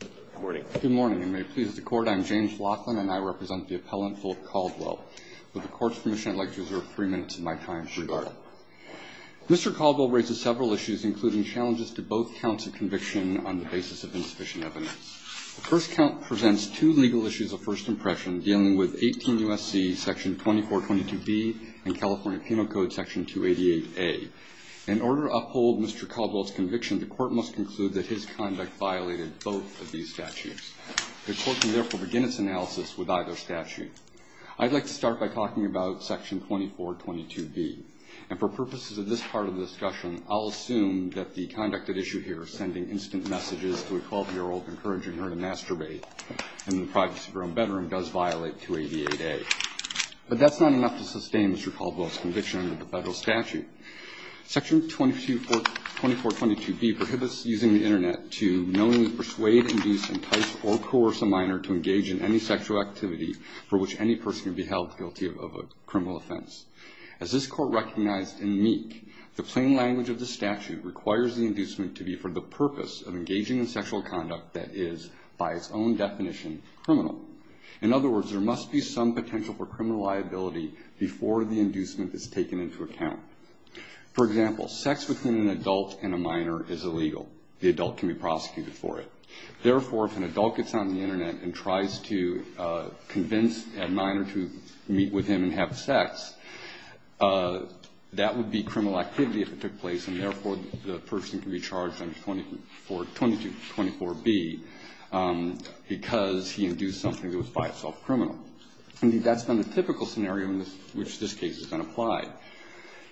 Good morning. Good morning, and may it please the Court, I am James Laughlin, and I represent the Appellant Philip Caldwell. With the Court's permission, I'd like to reserve three minutes of my time to regard it. Mr. Caldwell raises several issues, including challenges to both counts of conviction on the basis of insufficient evidence. The first count presents two legal issues of first impression dealing with 18 U.S.C. section 2422B and California Penal Code section 288A. In order to uphold Mr. Caldwell's conviction, the Court must conclude that his conduct violated both of these statutes. The Court can therefore begin its analysis with either statute. I'd like to start by talking about section 2422B. And for purposes of this part of the discussion, I'll assume that the conduct at issue here, sending instant messages to a 12-year-old encouraging her to masturbate in the privacy of her own bedroom, does violate 288A. But that's not enough to sustain Mr. Caldwell's conviction under the federal statute. Section 2422B prohibits using the Internet to knowingly persuade, induce, entice, or coerce a minor to engage in any sexual activity for which any person can be held guilty of a criminal offense. As this Court recognized in Meek, the plain language of the statute requires the inducement to be for the purpose of engaging in sexual conduct that is, by its own definition, criminal. In other words, there must be some potential for criminal liability before the inducement is taken into account. For example, sex with an adult and a minor is illegal. The adult can be prosecuted for it. Therefore, if an adult gets on the Internet and tries to convince a minor to meet with him and have sex, that would be criminal activity if it took place. And therefore, the person can be charged under 2224B because he induced something that was by itself criminal. That's been the typical scenario in which this case has been applied.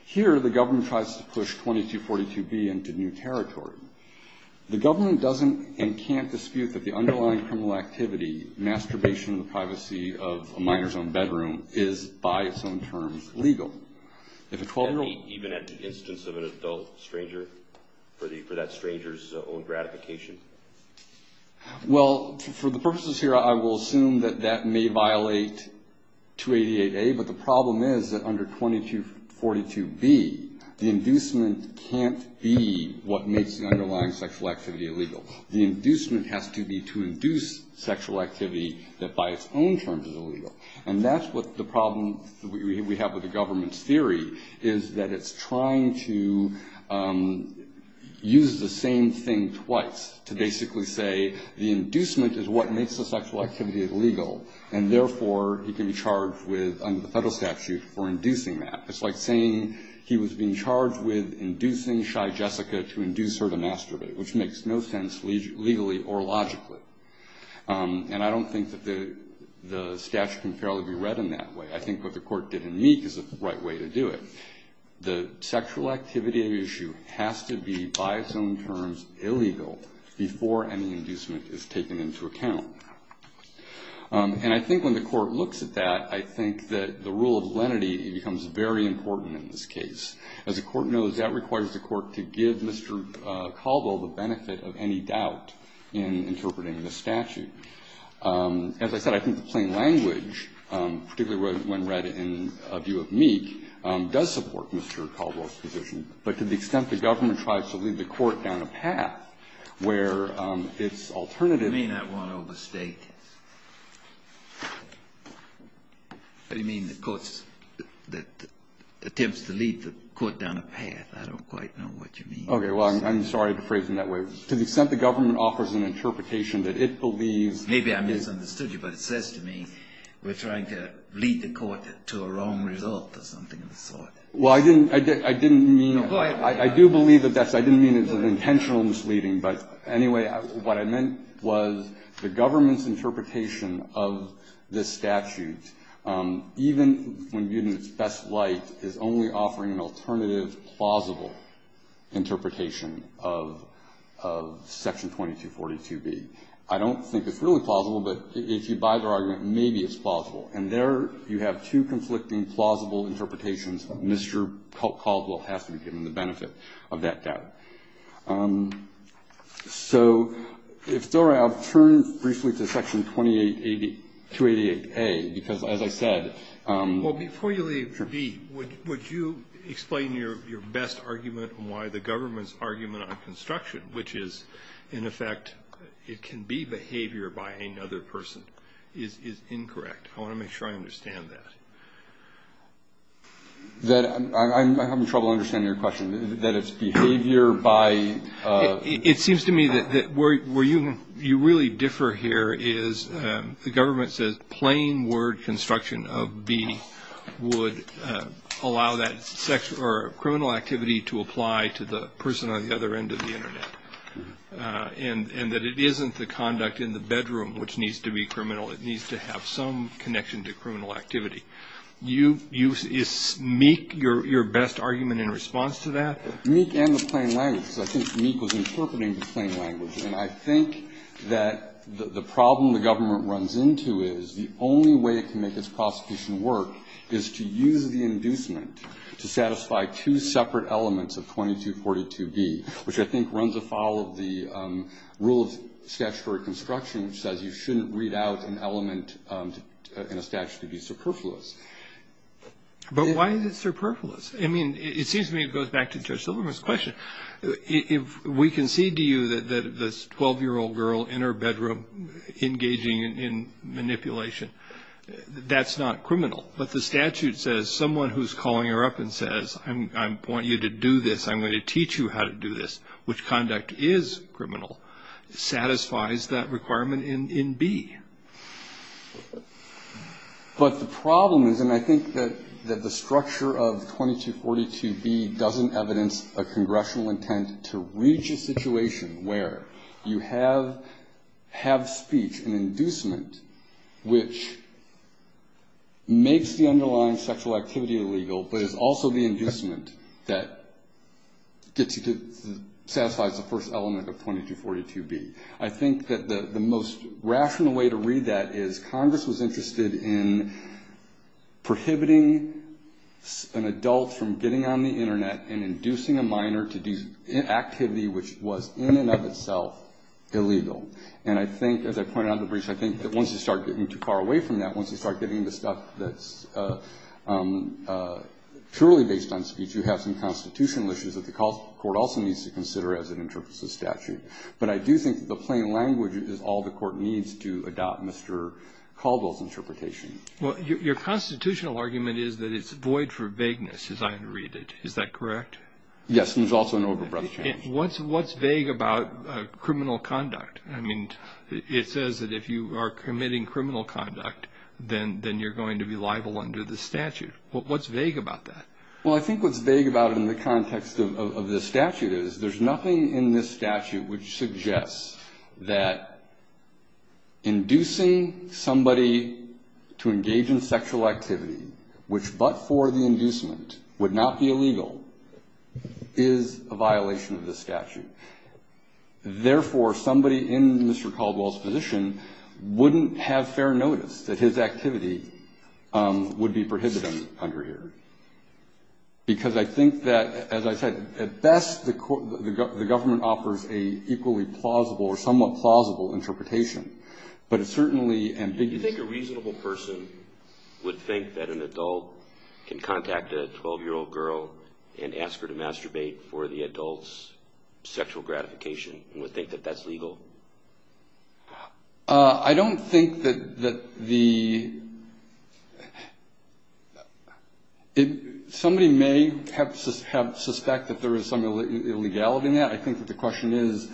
Here, the government tries to push 2242B into new territory. The government doesn't and can't dispute that the underlying criminal activity, masturbation in the privacy of a minor's own bedroom, is, by its own terms, legal. If a 12-year-old ---- Kennedy, even at the instance of an adult stranger, for that stranger's own gratification? Well, for the purposes here, I will assume that that may violate 288A. But the problem is that under 2242B, the inducement can't be what makes the underlying sexual activity illegal. The inducement has to be to induce sexual activity that, by its own terms, is illegal. And that's what the problem we have with the government's theory, is that it's trying to use the same thing twice to basically say the inducement is what makes the sexual activity illegal. And therefore, he can be charged with, under the Federal statute, for inducing that. It's like saying he was being charged with inducing shy Jessica to induce her to masturbate, which makes no sense legally or logically. And I don't think that the statute can fairly be read in that way. I think what the Court did in Meek is the right way to do it. The sexual activity issue has to be, by its own terms, illegal before any inducement is taken into account. And I think when the Court looks at that, I think that the rule of lenity becomes very important in this case. As the Court knows, that requires the Court to give Mr. Calvo the benefit of any doubt in interpreting the statute. As I said, I think the plain language, particularly when read in a view of Meek, does support Mr. Calvo's position. But to the extent the government tries to lead the Court down a path where its alternative I may not want to overstate this. What do you mean, the Court's attempts to lead the Court down a path? I don't quite know what you mean. Okay. Well, I'm sorry to phrase it that way. To the extent the government offers an interpretation that it believes Maybe I misunderstood you, but it says to me we're trying to lead the Court to a wrong result or something of the sort. Well, I didn't mean Go ahead. I do believe that that's I didn't mean it as an intentional misleading. But anyway, what I meant was the government's interpretation of this statute, even when viewed in its best light, is only offering an alternative, plausible interpretation of Section 2242B. I don't think it's really plausible, but if you buy the argument, maybe it's plausible. And there you have two conflicting, plausible interpretations. Mr. Calvo has to be given the benefit of that doubt. So if it's all right, I'll turn briefly to Section 288A, because as I said Well, before you leave, would you explain your best argument and why the government's argument on construction, which is, in effect, it can be behavior by any other person, is incorrect. I want to make sure I understand that. I'm having trouble understanding your question, that it's behavior by It seems to me that where you really differ here is the government says plain word construction of B would allow that sexual or criminal activity to apply to the person on the other end of the Internet, and that it isn't the conduct in the bedroom which needs to be criminal. It needs to have some connection to criminal activity. Is MEEC your best argument in response to that? MEEC and the plain language. I think MEEC was interpreting the plain language. And I think that the problem the government runs into is the only way it can make its prosecution work is to use the inducement to satisfy two separate elements of 2242B, which I think runs afoul of the rule of statutory construction, which says you shouldn't read out an element in a statute to be superfluous. But why is it superfluous? I mean, it seems to me it goes back to Judge Silverman's question. If we concede to you that this 12-year-old girl in her bedroom engaging in manipulation, that's not criminal. But the statute says someone who's calling her up and says, I want you to do this, I'm going to teach you how to do this, which conduct is criminal, satisfies that requirement in B. But the problem is, and I think that the structure of 2242B doesn't evidence a congressional intent to reach a situation where you have speech, an inducement, which makes the underlying sexual activity illegal, but is also the inducement that gets you to satisfy the first element of 2242B. I think that the most rational way to read that is Congress was interested in prohibiting an adult from getting on the Internet and inducing a minor to do activity which was in and of itself illegal. And I think, as I pointed out in the brief, I think that once you start getting too far away from that, once you start getting into stuff that's purely based on speech, you have some constitutional issues that the court also needs to consider as it interprets the statute. But I do think that the plain language is all the court needs to adopt Mr. Caldwell's interpretation. Well, your constitutional argument is that it's void for vagueness, as I read it. Is that correct? Yes, and there's also an over-breath change. What's vague about criminal conduct? I mean, it says that if you are committing criminal conduct, then you're going to be liable under the statute. What's vague about that? Well, I think what's vague about it in the context of the statute is there's nothing in this statute which suggests that inducing somebody to engage in sexual activity, which but for the inducement would not be illegal, is a violation of the statute. Therefore, somebody in Mr. Caldwell's position wouldn't have fair notice that his activity would be prohibited under here because I think that, as I said, at best the government offers an equally plausible or somewhat plausible interpretation, but it's certainly ambiguous. Do you think a reasonable person would think that an adult can contact a 12-year-old girl and ask her to masturbate for the adult's sexual gratification and would think that that's legal? I don't think that the – somebody may have suspect that there is some illegality in that. I think that the question is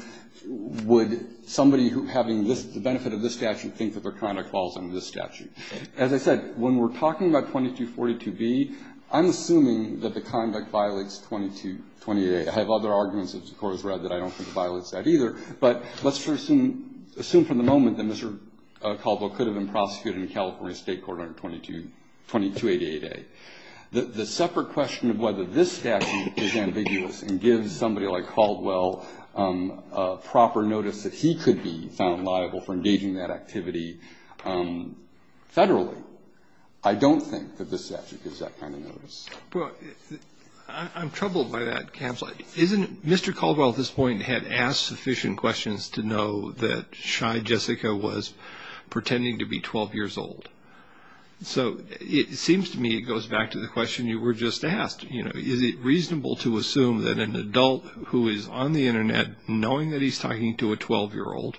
would somebody having the benefit of this statute think that their conduct falls under this statute. As I said, when we're talking about 2242B, I'm assuming that the conduct violates 2228. I have other arguments, of course, that I don't think violates that either. But let's assume for the moment that Mr. Caldwell could have been prosecuted in California State Court under 2288A. The separate question of whether this statute is ambiguous and gives somebody like Caldwell a proper notice that he could be found liable for engaging in that activity Federally, I don't think that this statute gives that kind of notice. I'm troubled by that, Caps. Isn't it – Mr. Caldwell at this point had asked sufficient questions to know that shy Jessica was pretending to be 12 years old. So it seems to me it goes back to the question you were just asked. Is it reasonable to assume that an adult who is on the Internet knowing that he's talking to a 12-year-old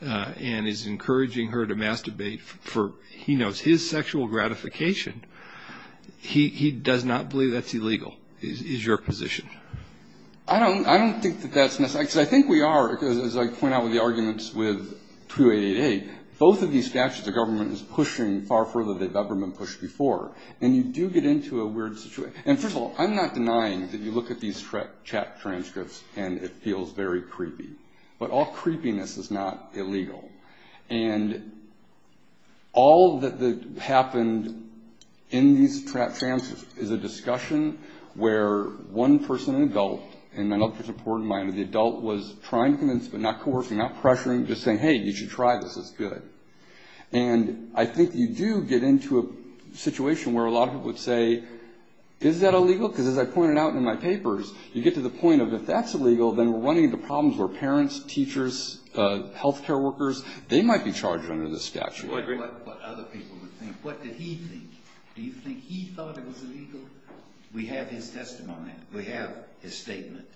and is encouraging her to masturbate for he knows his sexual gratification, he does not believe that's illegal? Is your position? I don't think that that's necessary. I think we are, because as I point out with the arguments with 2288A, both of these statutes the government is pushing far further than they've ever been pushed before. And you do get into a weird situation. And first of all, I'm not denying that you look at these chat transcripts and it feels very creepy. But all creepiness is not illegal. And all that happened in these chat transcripts is a discussion where one person, an adult, and an adult person, a poor-minded adult, was trying to convince, but not coercing, not pressuring, just saying, hey, you should try this. It's good. And I think you do get into a situation where a lot of people would say, is that illegal? Because as I pointed out in my papers, you get to the point of if that's illegal, then we're running into problems where parents, teachers, health care workers, they might be charged under this statute. What other people would think? What did he think? Do you think he thought it was illegal? We have his testimony. We have his statement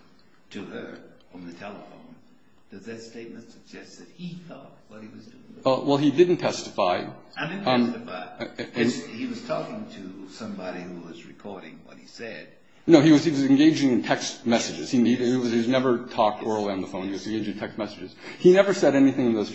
to her on the telephone. Does that statement suggest that he thought what he was doing was illegal? Well, he didn't testify. I didn't testify. He was talking to somebody who was recording what he said. No, he was engaging in text messages. He never talked oral on the phone. He was engaging in text messages. He never said anything in those.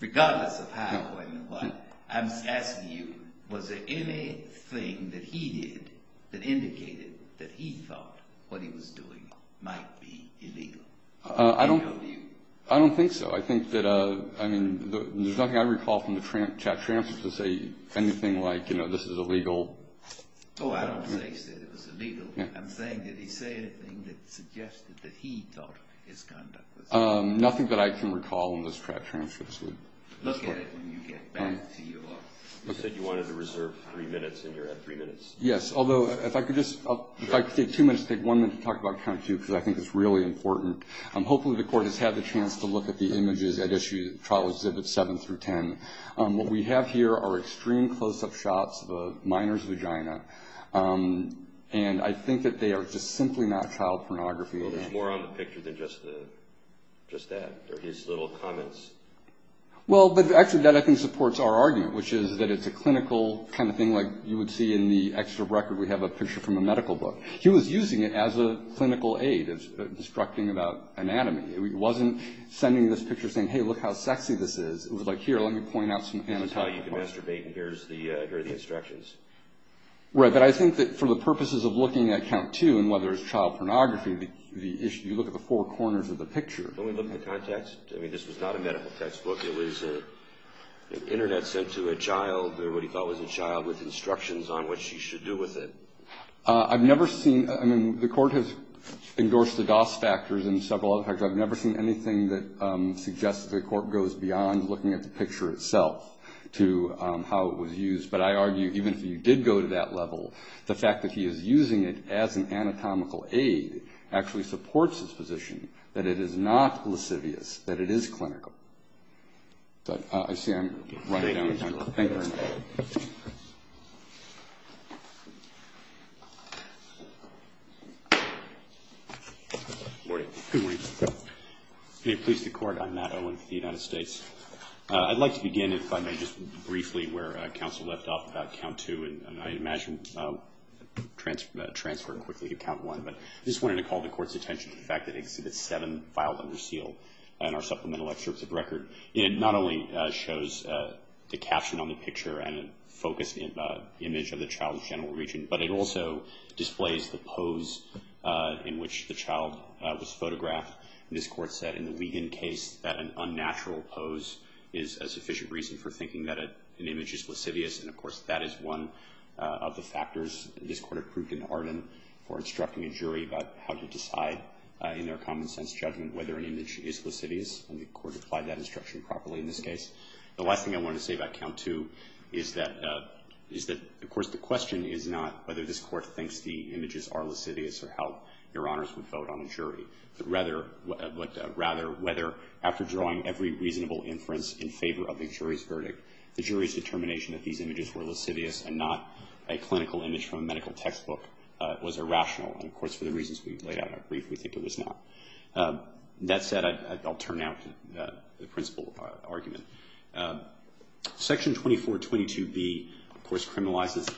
Regardless of how and what, I'm asking you, was there anything that he did that indicated that he thought what he was doing might be illegal? I don't think so. I think that, I mean, there's nothing I recall from the chat transfers that say anything like, you know, this is illegal. Oh, I don't think so. It was illegal. I'm saying, did he say anything that suggested that he thought his conduct was illegal? Nothing that I can recall in those chat transfers. Look at it when you get back to your... You said you wanted to reserve three minutes, and you're at three minutes. Yes, although if I could just, if I could take two minutes, take one minute to talk about County 2, because I think it's really important. Hopefully the Court has had the chance to look at the images at trial exhibits 7 through 10. What we have here are extreme close-up shots of a minor's vagina, and I think that they are just simply not child pornography. Well, there's more on the picture than just that, or his little comments. Well, but actually that, I think, supports our argument, which is that it's a clinical kind of thing like you would see in the extra record. We have a picture from a medical book. He was using it as a clinical aid, instructing about anatomy. He wasn't sending this picture saying, hey, look how sexy this is. It was like, here, let me point out some anatomy. This is how you can masturbate, and here are the instructions. Right, but I think that for the purposes of looking at County 2 and whether it's child pornography, the issue, you look at the four corners of the picture. When we look at the context, I mean, this was not a medical textbook. It was an Internet sent to a child, or what he thought was a child, with instructions on what she should do with it. I've never seen, I mean, the Court has endorsed the DOS factors and several other factors. I've never seen anything that suggests the Court goes beyond looking at the picture itself to how it was used. But I argue even if he did go to that level, the fact that he is using it as an anatomical aid actually supports his position that it is not lascivious, that it is clinical. I see I'm running out of time. Thank you very much. Good morning. Good morning. May it please the Court, I'm Matt Owen for the United States. I'd like to begin, if I may, just briefly where counsel left off about Count 2, and I imagine transferring quickly to Count 1. But I just wanted to call the Court's attention to the fact that Exhibit 7 filed under seal in our supplemental excerpts of record. It not only shows the caption on the picture and a focused image of the child's genital region, but it also displays the pose in which the child was photographed. This Court said in the Wiegand case that an unnatural pose is a sufficient reason for thinking that an image is lascivious, and of course that is one of the factors this Court approved in Arden for instructing a jury about how to decide in their common sense judgment whether an image is lascivious. And the Court applied that instruction properly in this case. The last thing I wanted to say about Count 2 is that, of course, the question is not whether this Court thinks the images are lascivious or how Your Honors would vote on the jury, but rather whether after drawing every reasonable inference in favor of the jury's verdict, the jury's determination that these images were lascivious and not a clinical image from a medical textbook was irrational. And, of course, for the reasons we've laid out up brief, we think it was not. That said, I'll turn now to the principal argument. Section 2422B, of course, criminalizes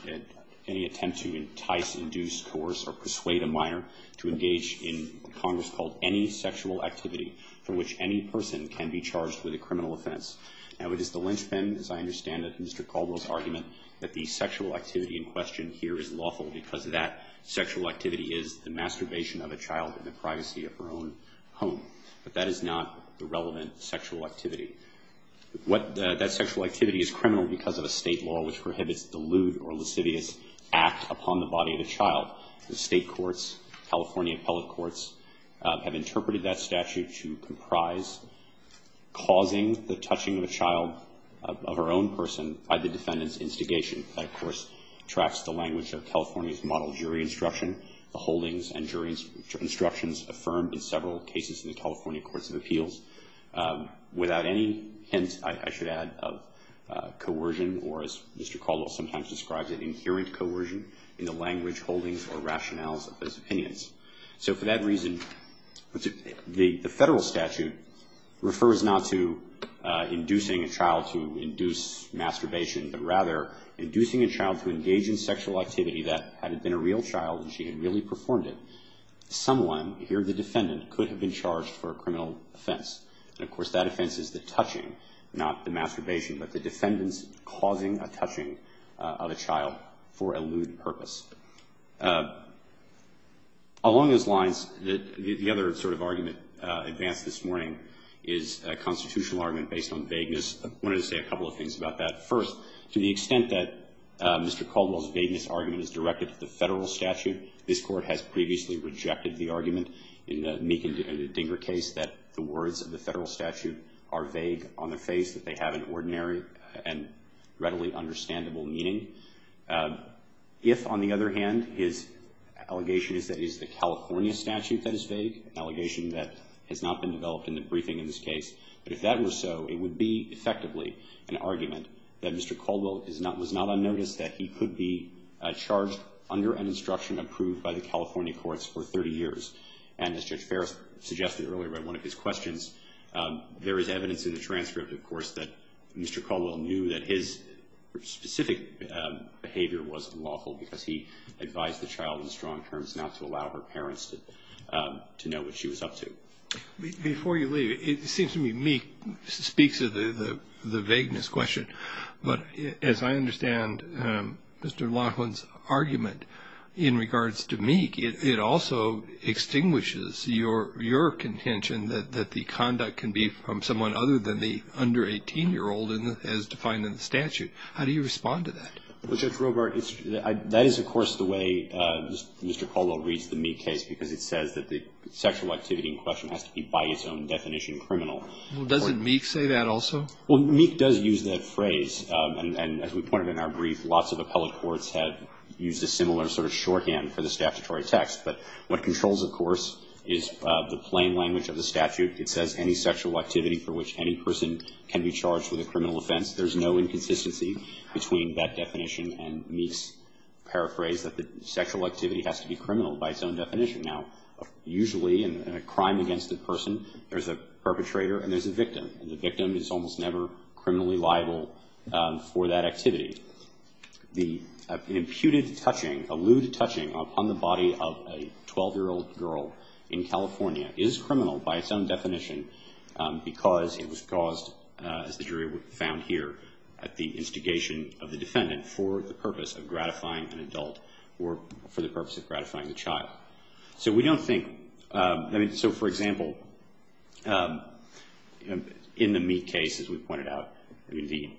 any attempt to entice, induce, coerce, or persuade a minor to engage in Congress-called any sexual activity for which any person can be charged with a criminal offense. Now, it is the linchpin, as I understand it, Mr. Caldwell's argument, that the sexual activity in question here is lawful because that sexual activity is the masturbation of a child in the privacy of her own home. But that is not the relevant sexual activity. That sexual activity is criminal because of a state law which prohibits the lewd or lascivious act upon the body of a child. The state courts, California appellate courts, have interpreted that statute to comprise causing the touching of a child, of her own person, by the defendant's instigation. That, of course, tracks the language of California's model jury instruction, the holdings and jury instructions affirmed in several cases in the California Courts of Appeals. Without any hint, I should add, of coercion or, as Mr. Caldwell sometimes describes it, inherent coercion in the language, holdings, or rationales of those opinions. So for that reason, the federal statute refers not to inducing a child to induce masturbation, but rather inducing a child to engage in sexual activity that, had it been a real child and she had really performed it, someone, here the defendant, could have been charged for a criminal offense. And, of course, that offense is the touching, not the masturbation, but the defendant's causing a touching of a child for a lewd purpose. Along those lines, the other sort of argument advanced this morning is a constitutional argument based on vagueness. I wanted to say a couple of things about that. First, to the extent that Mr. Caldwell's vagueness argument is directed to the federal statute, this Court has previously rejected the argument in the Meek and Dinger case that the words of the federal statute are vague on the face that they have an ordinary and readily understandable meaning. If, on the other hand, his allegation is that it is the California statute that is vague, an allegation that has not been developed in the briefing in this case, but if that were so, it would be effectively an argument that Mr. Caldwell was not unnoticed, that he could be charged under an instruction approved by the California courts for 30 years. And as Judge Ferris suggested earlier in one of his questions, there is evidence in the transcript, of course, that Mr. Caldwell knew that his specific behavior was unlawful because he advised the child in strong terms not to allow her parents to know what she was up to. Before you leave, it seems to me Meek speaks of the vagueness question. But as I understand Mr. Laughlin's argument in regards to Meek, it also extinguishes your contention that the conduct can be from someone other than the under 18-year-old as defined in the statute. How do you respond to that? Well, Judge Robart, that is, of course, the way Mr. Caldwell reads the Meek case, because it says that the sexual activity in question has to be by its own definition criminal. Well, doesn't Meek say that also? Well, Meek does use that phrase. And as we pointed in our brief, lots of appellate courts have used a similar sort of shorthand for the statutory text. But what controls, of course, is the plain language of the statute. It says any sexual activity for which any person can be charged with a criminal offense. There is no inconsistency between that definition and Meek's paraphrase that the sexual activity has to be criminal by its own definition. Now, usually in a crime against a person, there's a perpetrator and there's a victim. And the victim is almost never criminally liable for that activity. The imputed touching, a lewd touching upon the body of a 12-year-old girl in California is criminal by its own definition because it was caused, as the jury found here, at the instigation of the defendant for the purpose of gratifying an adult or for the purpose of gratifying the child. So we don't think, I mean, so for example, in the Meek case, as we pointed out, the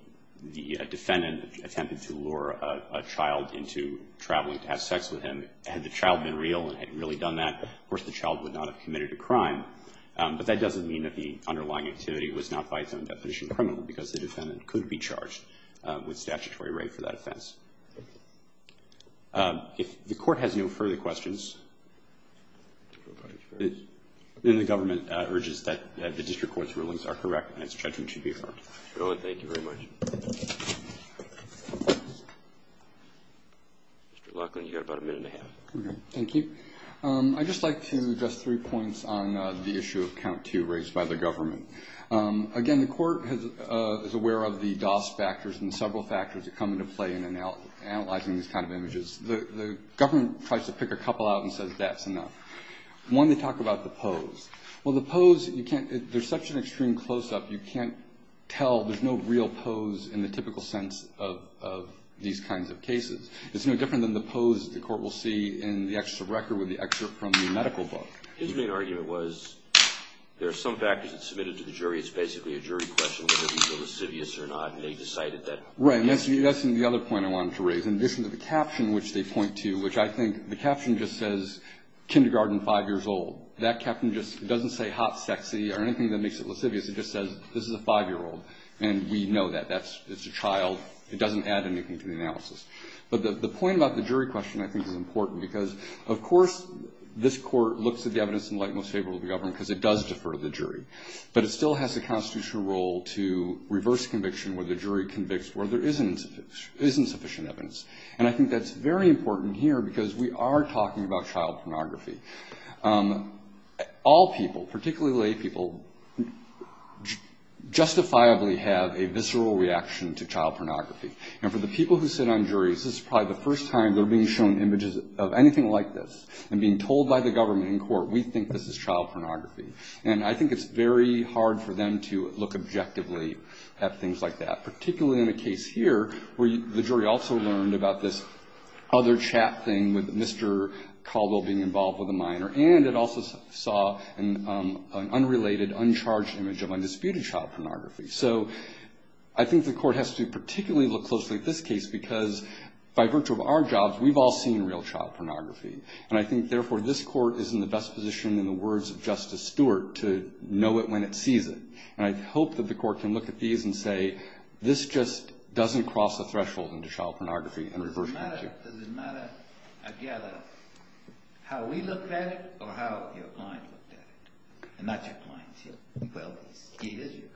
defendant attempted to lure a child into traveling to have sex with him. Had the child been real and had really done that, of course, the child would not have committed a crime. But that doesn't mean that the underlying activity was not by its own definition criminal because the defendant could be charged with statutory rape for that offense. If the court has no further questions, then the government urges that the district court's rulings are correct and its judgment should be affirmed. Thank you very much. Mr. Loughlin, you've got about a minute and a half. Thank you. I'd just like to address three points on the issue of count two raised by the government. Again, the court is aware of the DOS factors and several factors that come into play in analyzing these kind of images. The government tries to pick a couple out and says that's enough. One, they talk about the pose. Well, the pose, there's such an extreme close-up, you can't tell. There's no real pose in the typical sense of these kinds of cases. It's no different than the pose the court will see in the extra record with the excerpt from the medical book. The jury, it's basically a jury question whether he's a lascivious or not, and they decided that. Right, and that's the other point I wanted to raise. In addition to the caption which they point to, which I think the caption just says, kindergarten, five years old. That caption just doesn't say hot, sexy or anything that makes it lascivious. It just says this is a five-year-old, and we know that. It's a child. It doesn't add anything to the analysis. But the point about the jury question I think is important because, of course, this court looks at the evidence in the light most favorable to the government because it does defer the jury. But it still has the constitutional role to reverse conviction where the jury convicts where there isn't sufficient evidence. And I think that's very important here because we are talking about child pornography. All people, particularly lay people, justifiably have a visceral reaction to child pornography. And for the people who sit on juries, this is probably the first time they're being shown images of anything like this and being told by the government in court, we think this is child pornography. And I think it's very hard for them to look objectively at things like that, particularly in a case here where the jury also learned about this other chat thing with Mr. Caldwell being involved with a minor. And it also saw an unrelated, uncharged image of undisputed child pornography. So I think the court has to particularly look closely at this case because by virtue of our jobs, we've all seen real child pornography. And I think, therefore, this court is in the best position, in the words of Justice Stewart, to know it when it sees it. And I hope that the court can look at these and say, this just doesn't cross the threshold into child pornography and reverse conviction. Does it matter, again, how we look at it or how your client looked at it? And not your client's. Well, he is your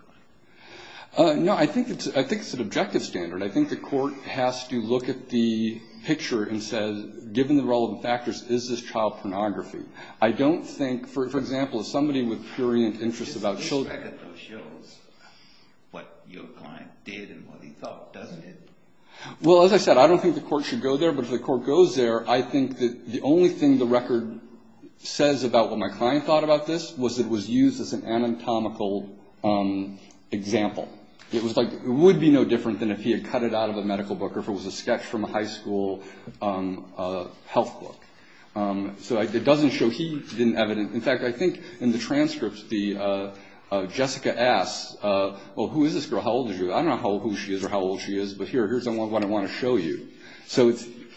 client. No, I think it's an objective standard. I think the court has to look at the picture and say, given the relevant factors, is this child pornography? I don't think, for example, somebody with purient interests about children. This record shows what your client did and what he thought, doesn't it? Well, as I said, I don't think the court should go there. But if the court goes there, I think that the only thing the record says about what my client thought about this was it was used as an anatomical example. It would be no different than if he had cut it out of a medical book or if it was a sketch from a high school health book. So it doesn't show he didn't have it. In fact, I think in the transcript, Jessica asks, well, who is this girl? How old is she? I don't know who she is or how old she is. But here, here's what I want to show you. So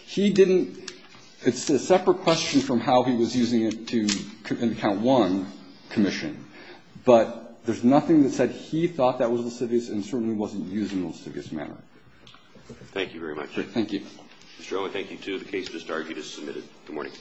he didn't – it's a separate question from how he was using it to count one commission. But there's nothing that said he thought that was lascivious and certainly wasn't used in a lascivious manner. Thank you very much. Thank you. Mr. Owen, thank you, too. The case is disbarred. You just submitted. Good morning.